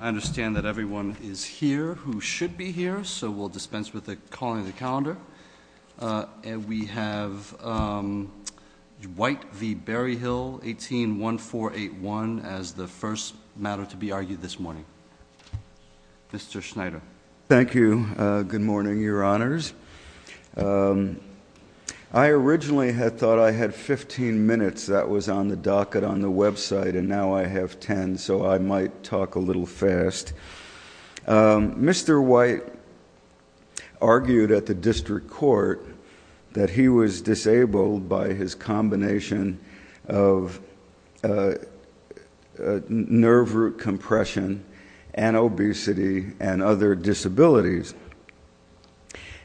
I understand that everyone is here who should be here, so we'll dispense with the calling of the calendar. And we have White v. Berryhill, 18-1481, as the first matter to be argued this morning. Mr. Schneider. Thank you. Good morning, Your Honors. I originally had thought I had 15 minutes. That was on the docket on the website, and now I have 10, so I might talk a little fast. Mr. White argued at the district court that he was disabled by his combination of nerve root compression and obesity and other disabilities.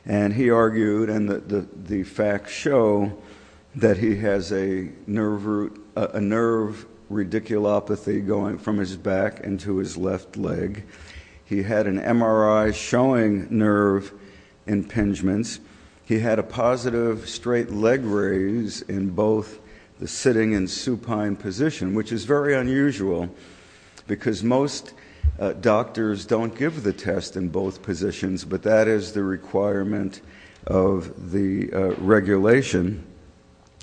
And he argued, and the facts show that he has a nerve radiculopathy going from his back into his left leg. He had an MRI showing nerve impingements. He had a positive straight leg raise in both the sitting and supine position, which is very unusual because most doctors don't give the test in both positions, but that is the requirement of the regulation.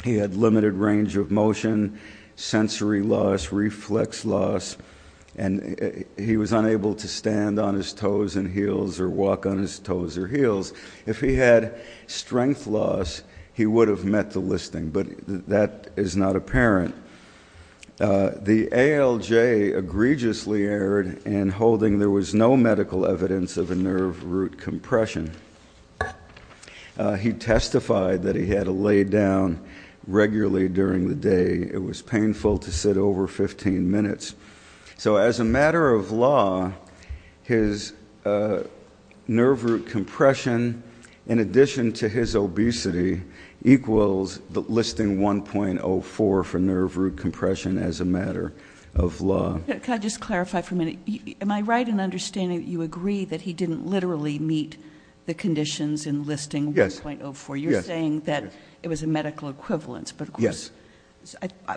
He had limited range of motion, sensory loss, reflex loss, and he was unable to stand on his toes and heels or walk on his toes or heels. If he had strength loss, he would have met the listing, but that is not apparent. The ALJ egregiously erred in holding there was no medical evidence of a nerve root compression. He testified that he had to lay down regularly during the day. It was painful to sit over 15 minutes. So as a matter of law, his nerve root compression, in addition to his obesity, equals the listing 1.04 for nerve root compression as a matter of law. Can I just clarify for a minute? Am I right in understanding that you agree that he didn't literally meet the conditions in listing 1.04? Yes. You're saying that it was a medical equivalence. Yes.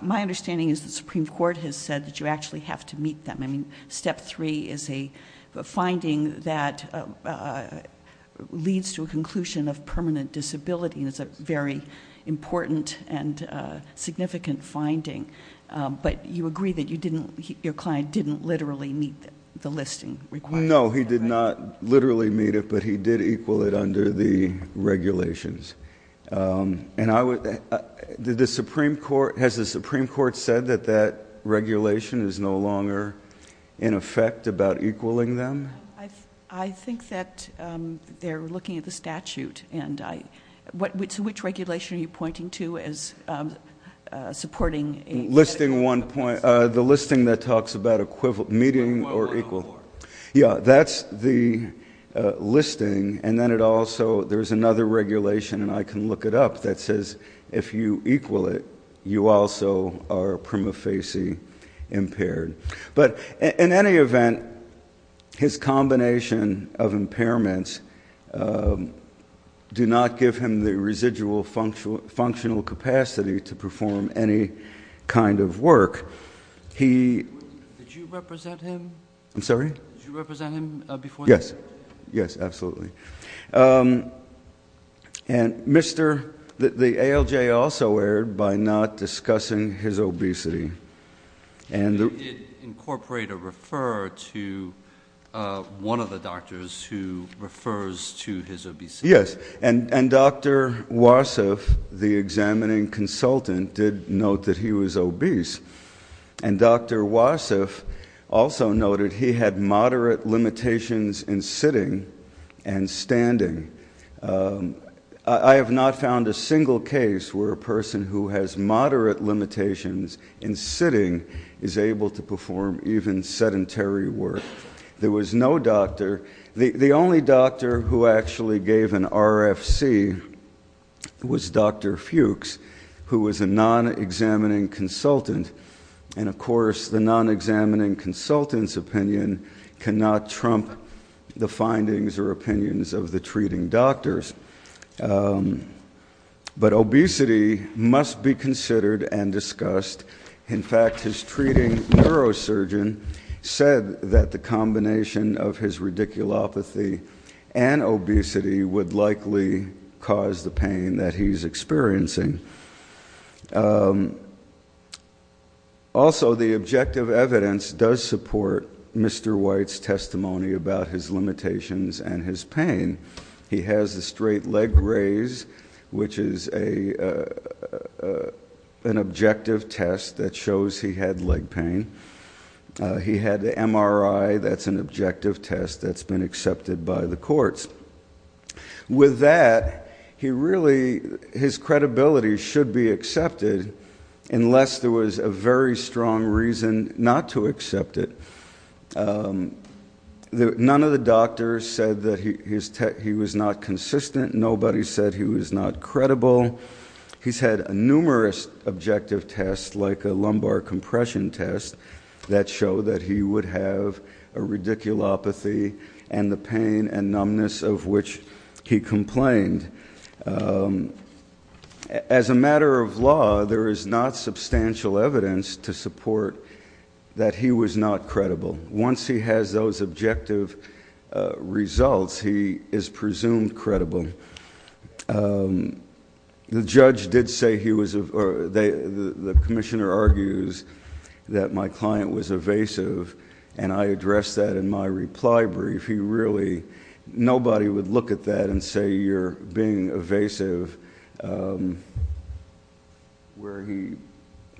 My understanding is the Supreme Court has said that you actually have to meet them. Step three is a finding that leads to a conclusion of permanent disability. It's a very important and significant finding. But you agree that your client didn't literally meet the listing requirement. No, he did not literally meet it, but he did equal it under the regulations. Has the Supreme Court said that that regulation is no longer in effect about equaling them? I think that they're looking at the statute. So which regulation are you pointing to as supporting? The listing that talks about meeting or equal. Yeah, that's the listing. There's another regulation, and I can look it up, that says if you equal it, you also are prima facie impaired. But in any event, his combination of impairments do not give him the residual functional capacity to perform any kind of work. Did you represent him? I'm sorry? Did you represent him before the hearing? Yes, absolutely. And the ALJ also erred by not discussing his obesity. Did it incorporate a referrer to one of the doctors who refers to his obesity? Yes, and Dr. Wasif, the examining consultant, did note that he was obese. And Dr. Wasif also noted he had moderate limitations in sitting and standing. I have not found a single case where a person who has moderate limitations in sitting is able to perform even sedentary work. There was no doctor. The only doctor who actually gave an RFC was Dr. Fuchs, who was a non-examining consultant. And, of course, the non-examining consultant's opinion cannot trump the findings or opinions of the treating doctors. In fact, his treating neurosurgeon said that the combination of his radiculopathy and obesity would likely cause the pain that he's experiencing. Also, the objective evidence does support Mr. White's testimony about his limitations and his pain. He has a straight leg raise, which is an objective test that shows he had leg pain. He had the MRI. That's an objective test that's been accepted by the courts. With that, he really his credibility should be accepted, unless there was a very strong reason not to accept it. None of the doctors said that he was not consistent. Nobody said he was not credible. He's had numerous objective tests, like a lumbar compression test, that show that he would have a radiculopathy and the pain and numbness of which he complained. As a matter of law, there is not substantial evidence to support that he was not credible. Once he has those objective results, he is presumed credible. The judge did say he was, or the commissioner argues that my client was evasive, and I addressed that in my reply brief. He really, nobody would look at that and say you're being evasive. Where he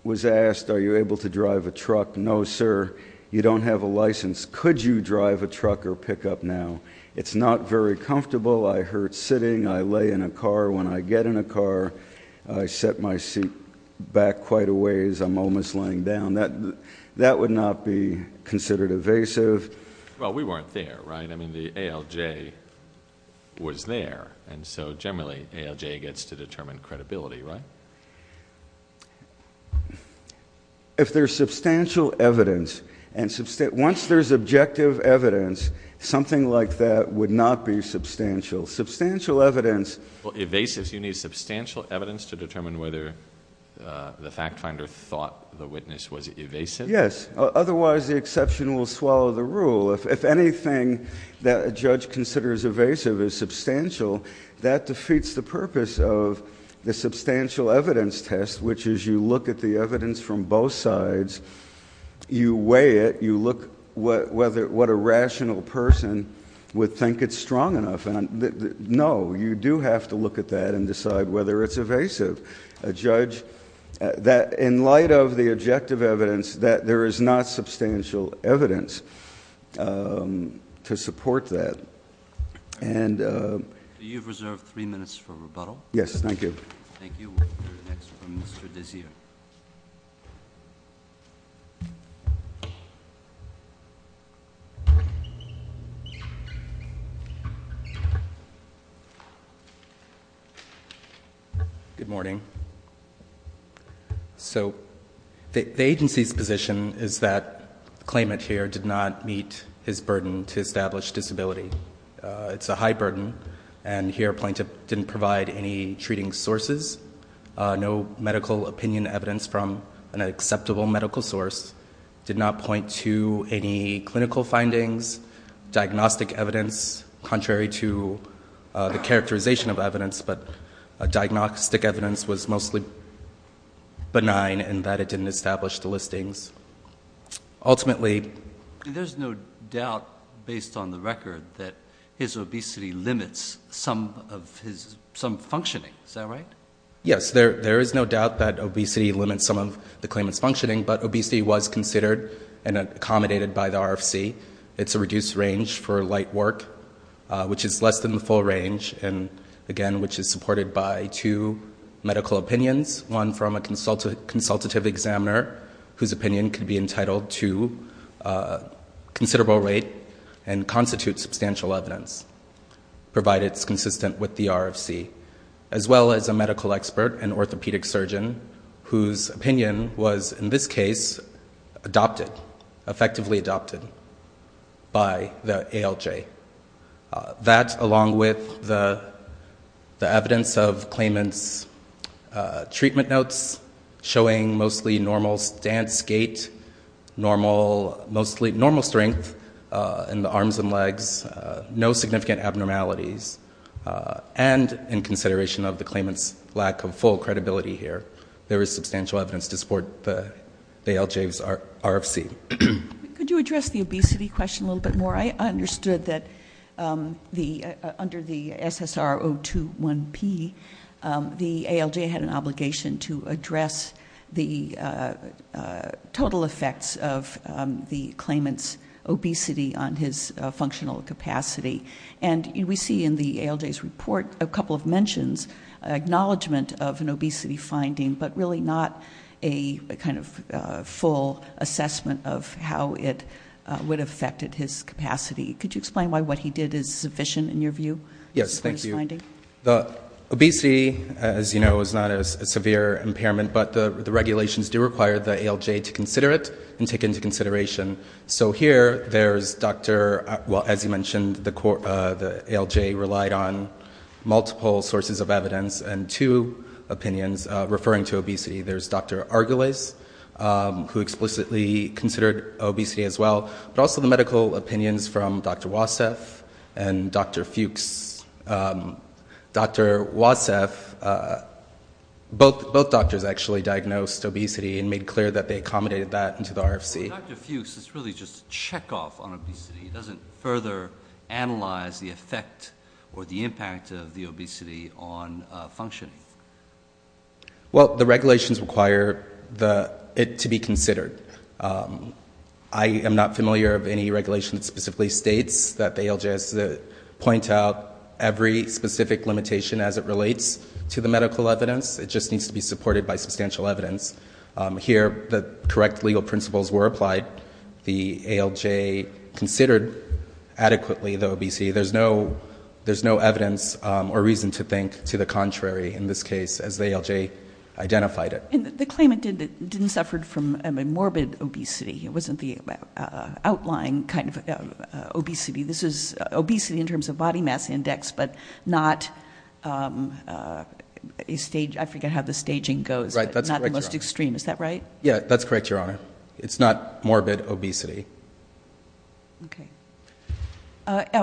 was asked, are you able to drive a truck? No, sir. You don't have a license. Could you drive a truck or pick up now? It's not very comfortable. I hurt sitting. I lay in a car. When I get in a car, I set my seat back quite a ways. I'm almost laying down. That would not be considered evasive. Well, we weren't there, right? I mean, the ALJ was there, and so generally, ALJ gets to determine credibility, right? If there's substantial evidence, and once there's objective evidence, something like that would not be substantial. Substantial evidence. Evasive. You need substantial evidence to determine whether the fact finder thought the witness was evasive? Yes. Otherwise, the exception will swallow the rule. If anything that a judge considers evasive is substantial, that defeats the purpose of the substantial evidence test, which is you look at the evidence from both sides, you weigh it, you look what a rational person would think it's strong enough. No, you do have to look at that and decide whether it's evasive. A judge, in light of the objective evidence, that there is not substantial evidence. To support that. And- You've reserved three minutes for rebuttal. Yes, thank you. Thank you. We'll hear next from Mr. Desir. Good morning. So the agency's position is that the claimant here did not meet his burden to establish disability. It's a high burden, and here a plaintiff didn't provide any treating sources, no medical opinion evidence from an acceptable medical source, did not point to any clinical findings, diagnostic evidence, contrary to the characterization of evidence, but diagnostic evidence was mostly benign in that it didn't establish the listings. Ultimately- There's no doubt, based on the record, that his obesity limits some functioning. Is that right? Yes, there is no doubt that obesity limits some of the claimant's functioning, but obesity was considered and accommodated by the RFC. It's a reduced range for light work, which is less than the full range, and, again, which is supported by two medical opinions, one from a consultative examiner, whose opinion could be entitled to considerable rate and constitute substantial evidence, provided it's consistent with the RFC, as well as a medical expert, an orthopedic surgeon, whose opinion was, in this case, adopted, effectively adopted by the ALJ. That, along with the evidence of claimant's treatment notes, showing mostly normal stance, gait, normal strength in the arms and legs, no significant abnormalities, and in consideration of the claimant's lack of full credibility here, there is substantial evidence to support the ALJ's RFC. Could you address the obesity question a little bit more? I understood that under the SSR-021P, the ALJ had an obligation to address the total effects of the claimant's obesity on his functional capacity, and we see in the ALJ's report a couple of mentions, acknowledgment of an obesity finding, but really not a kind of full assessment of how it would have affected his capacity. Could you explain why what he did is sufficient in your view? Yes, thank you. The obesity, as you know, is not a severe impairment, but the regulations do require the ALJ to consider it and take it into consideration. So here there's Dr. — well, as you mentioned, the ALJ relied on multiple sources of evidence and two opinions referring to obesity. There's Dr. Argulis, who explicitly considered obesity as well, but also the medical opinions from Dr. Wassef and Dr. Fuchs. Dr. Wassef, both doctors actually diagnosed obesity and made clear that they accommodated that into the RFC. Dr. Fuchs, this really is just a checkoff on obesity. It doesn't further analyze the effect or the impact of the obesity on functioning. Well, the regulations require it to be considered. I am not familiar of any regulation that specifically states that the ALJ has to point out every specific limitation as it relates to the medical evidence. It just needs to be supported by substantial evidence. Here the correct legal principles were applied. The ALJ considered adequately the obesity. There's no evidence or reason to think to the contrary in this case as the ALJ identified it. And the claimant didn't suffer from morbid obesity. It wasn't the outlying kind of obesity. This was obesity in terms of body mass index, but not — I forget how the staging goes. Right, that's correct, Your Honor. Not the most extreme, is that right? Yeah, that's correct, Your Honor. It's not morbid obesity. Okay.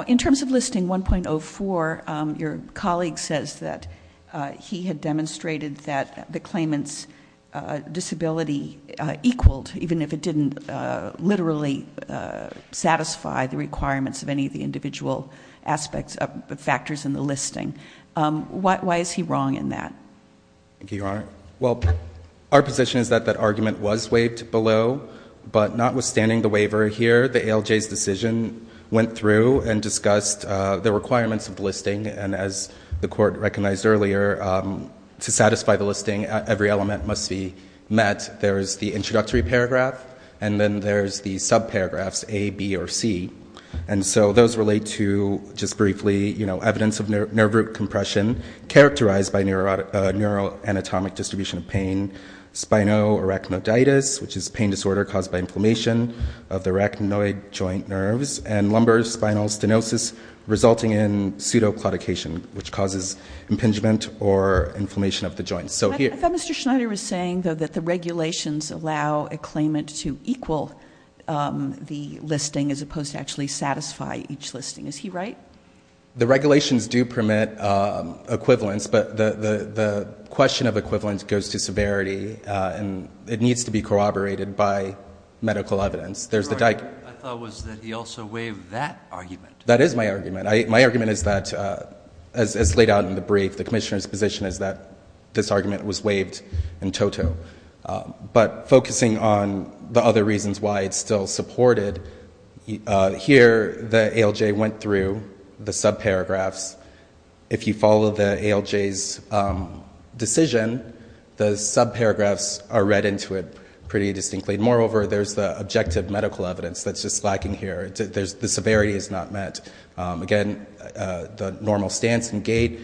In terms of listing 1.04, your colleague says that he had demonstrated that the claimant's disability equaled, even if it didn't literally satisfy the requirements of any of the individual factors in the listing. Why is he wrong in that? Thank you, Your Honor. Well, our position is that that argument was waived below. But notwithstanding the waiver here, the ALJ's decision went through and discussed the requirements of the listing. And as the court recognized earlier, to satisfy the listing, every element must be met. There's the introductory paragraph, and then there's the subparagraphs A, B, or C. And so those relate to, just briefly, evidence of nerve root compression characterized by neuroanatomic distribution of pain, spinal arachniditis, which is a pain disorder caused by inflammation of the arachnoid joint nerves, and lumbar spinal stenosis resulting in pseudoclaudication, which causes impingement or inflammation of the joints. I thought Mr. Schneider was saying, though, that the regulations allow a claimant to equal the listing as opposed to actually satisfy each listing. Is he right? The regulations do permit equivalence, but the question of equivalence goes to severity, and it needs to be corroborated by medical evidence. I thought it was that he also waived that argument. That is my argument. My argument is that, as laid out in the brief, the commissioner's position is that this argument was waived in toto. But focusing on the other reasons why it's still supported, here the ALJ went through the subparagraphs. If you follow the ALJ's decision, the subparagraphs are read into it pretty distinctly. Moreover, there's the objective medical evidence that's just lacking here. The severity is not met. Again, the normal stance and gait,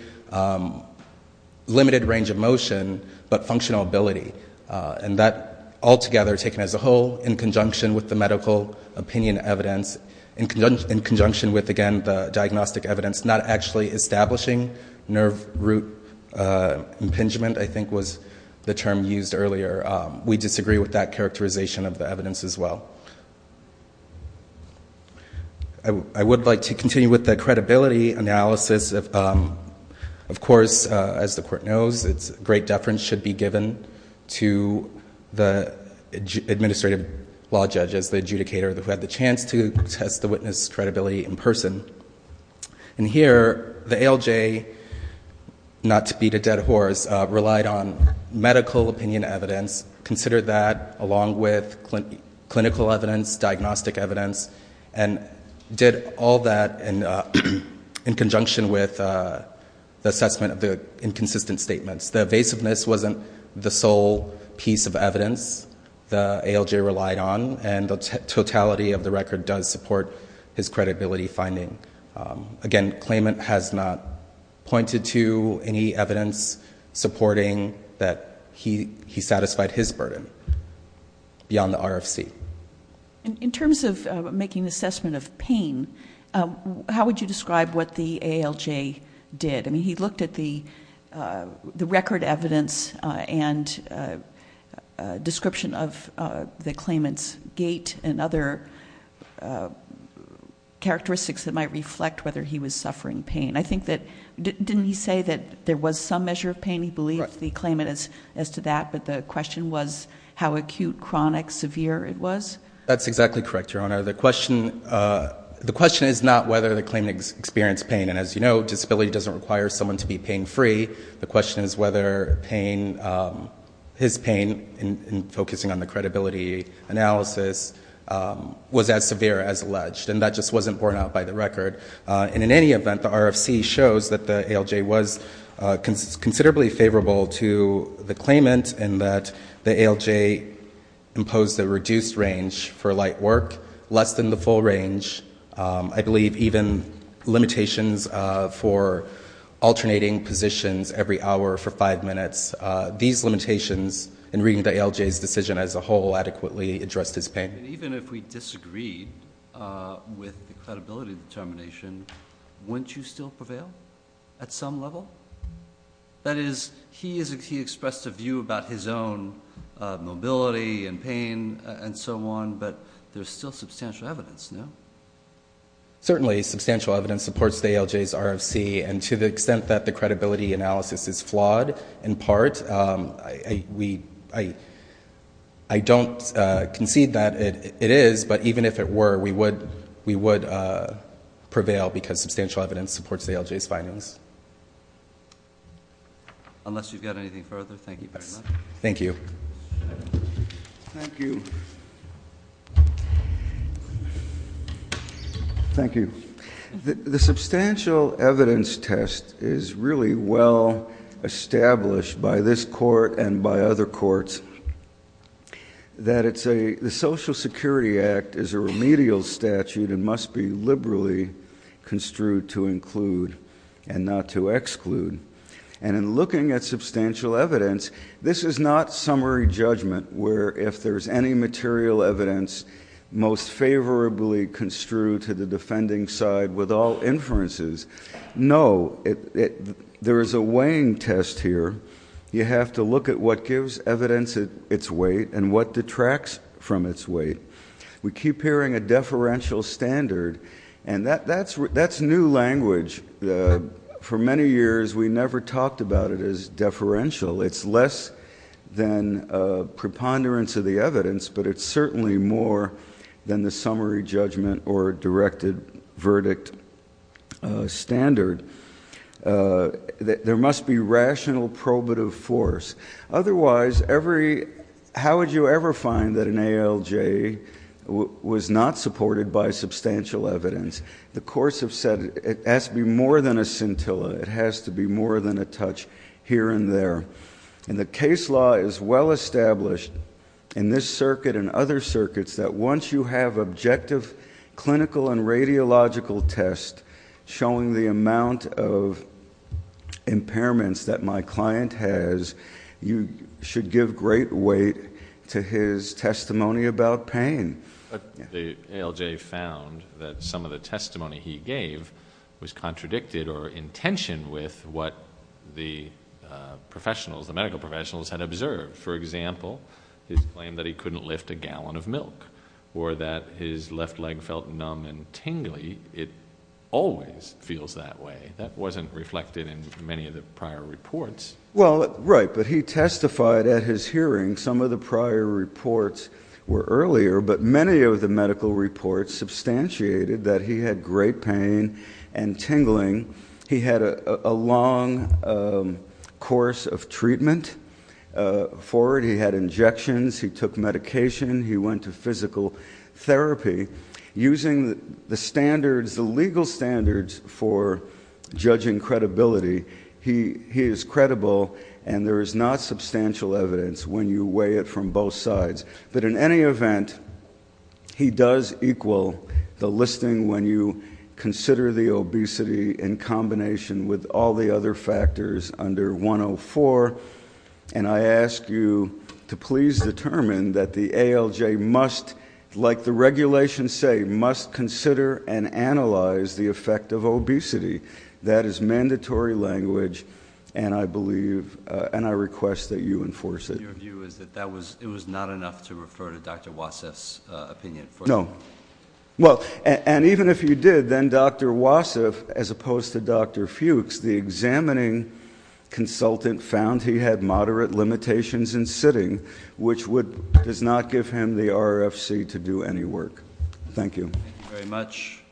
limited range of motion, but functional ability. And that, altogether, taken as a whole, in conjunction with the medical opinion evidence, in conjunction with, again, the diagnostic evidence, not actually establishing nerve root impingement, I think was the term used earlier. We disagree with that characterization of the evidence as well. I would like to continue with the credibility analysis. Of course, as the court knows, great deference should be given to the administrative law judge as the adjudicator who had the chance to test the witness' credibility in person. Here, the ALJ, not to beat a dead horse, relied on medical opinion evidence, considered that along with clinical evidence, diagnostic evidence, and did all that in conjunction with the assessment of the inconsistent statements. The evasiveness wasn't the sole piece of evidence the ALJ relied on, and the totality of the record does support his credibility finding. Again, claimant has not pointed to any evidence supporting that he satisfied his burden beyond the RFC. In terms of making assessment of pain, how would you describe what the ALJ did? He looked at the record evidence and description of the claimant's gait and other characteristics that might reflect whether he was suffering pain. Didn't he say that there was some measure of pain? He believed the claimant as to that, but the question was how acute, chronic, severe it was? That's exactly correct, Your Honor. The question is not whether the claimant experienced pain, and as you know, disability doesn't require someone to be pain-free. The question is whether his pain, focusing on the credibility analysis, was as severe as alleged, and that just wasn't borne out by the record. In any event, the RFC shows that the ALJ was considerably favorable to the claimant in that the ALJ imposed a reduced range for light work, less than the full range. I believe even limitations for alternating positions every hour for five minutes. These limitations, in reading the ALJ's decision as a whole, adequately addressed his pain. Even if we disagreed with the credibility determination, wouldn't you still prevail at some level? That is, he expressed a view about his own mobility and pain and so on, but there's still substantial evidence, no? Certainly substantial evidence supports the ALJ's RFC, and to the extent that the credibility analysis is flawed in part, I don't concede that it is, but even if it were, we would prevail because substantial evidence supports the ALJ's findings. Unless you've got anything further, thank you very much. Thank you. Thank you. Thank you. The substantial evidence test is really well established by this court and by other courts that the Social Security Act is a remedial statute and must be liberally construed to include and not to exclude. And in looking at substantial evidence, this is not summary judgment where if there's any material evidence most favorably construed to the defending side with all inferences. No, there is a weighing test here. You have to look at what gives evidence its weight and what detracts from its weight. We keep hearing a deferential standard, and that's new language. For many years, we never talked about it as deferential. It's less than a preponderance of the evidence, but it's certainly more than the summary judgment or directed verdict standard. There must be rational probative force. Otherwise, how would you ever find that an ALJ was not supported by substantial evidence? The courts have said it has to be more than a scintilla. It has to be more than a touch here and there. And the case law is well established in this circuit and other circuits that once you have objective clinical and radiological tests showing the amount of impairments that my client has, you should give great weight to his testimony about pain. But the ALJ found that some of the testimony he gave was contradicted or in tension with what the professionals, the medical professionals, had observed. For example, his claim that he couldn't lift a gallon of milk or that his left leg felt numb and tingly. It always feels that way. That wasn't reflected in many of the prior reports. Well, right, but he testified at his hearing some of the prior reports were earlier, but many of the medical reports substantiated that he had great pain and tingling. He had a long course of treatment for it. He had injections. He took medication. He went to physical therapy. Using the standards, the legal standards for judging credibility, he is credible and there is not substantial evidence when you weigh it from both sides. But in any event, he does equal the listing when you consider the obesity in combination with all the other factors under 104, and I ask you to please determine that the ALJ must, like the regulations say, must consider and analyze the effect of obesity. That is mandatory language, and I believe and I request that you enforce it. So your view is that it was not enough to refer to Dr. Wassef's opinion? No. Well, and even if you did, then Dr. Wassef, as opposed to Dr. Fuchs, the examining consultant found he had moderate limitations in sitting, which does not give him the RFC to do any work. Thank you. Thank you very much.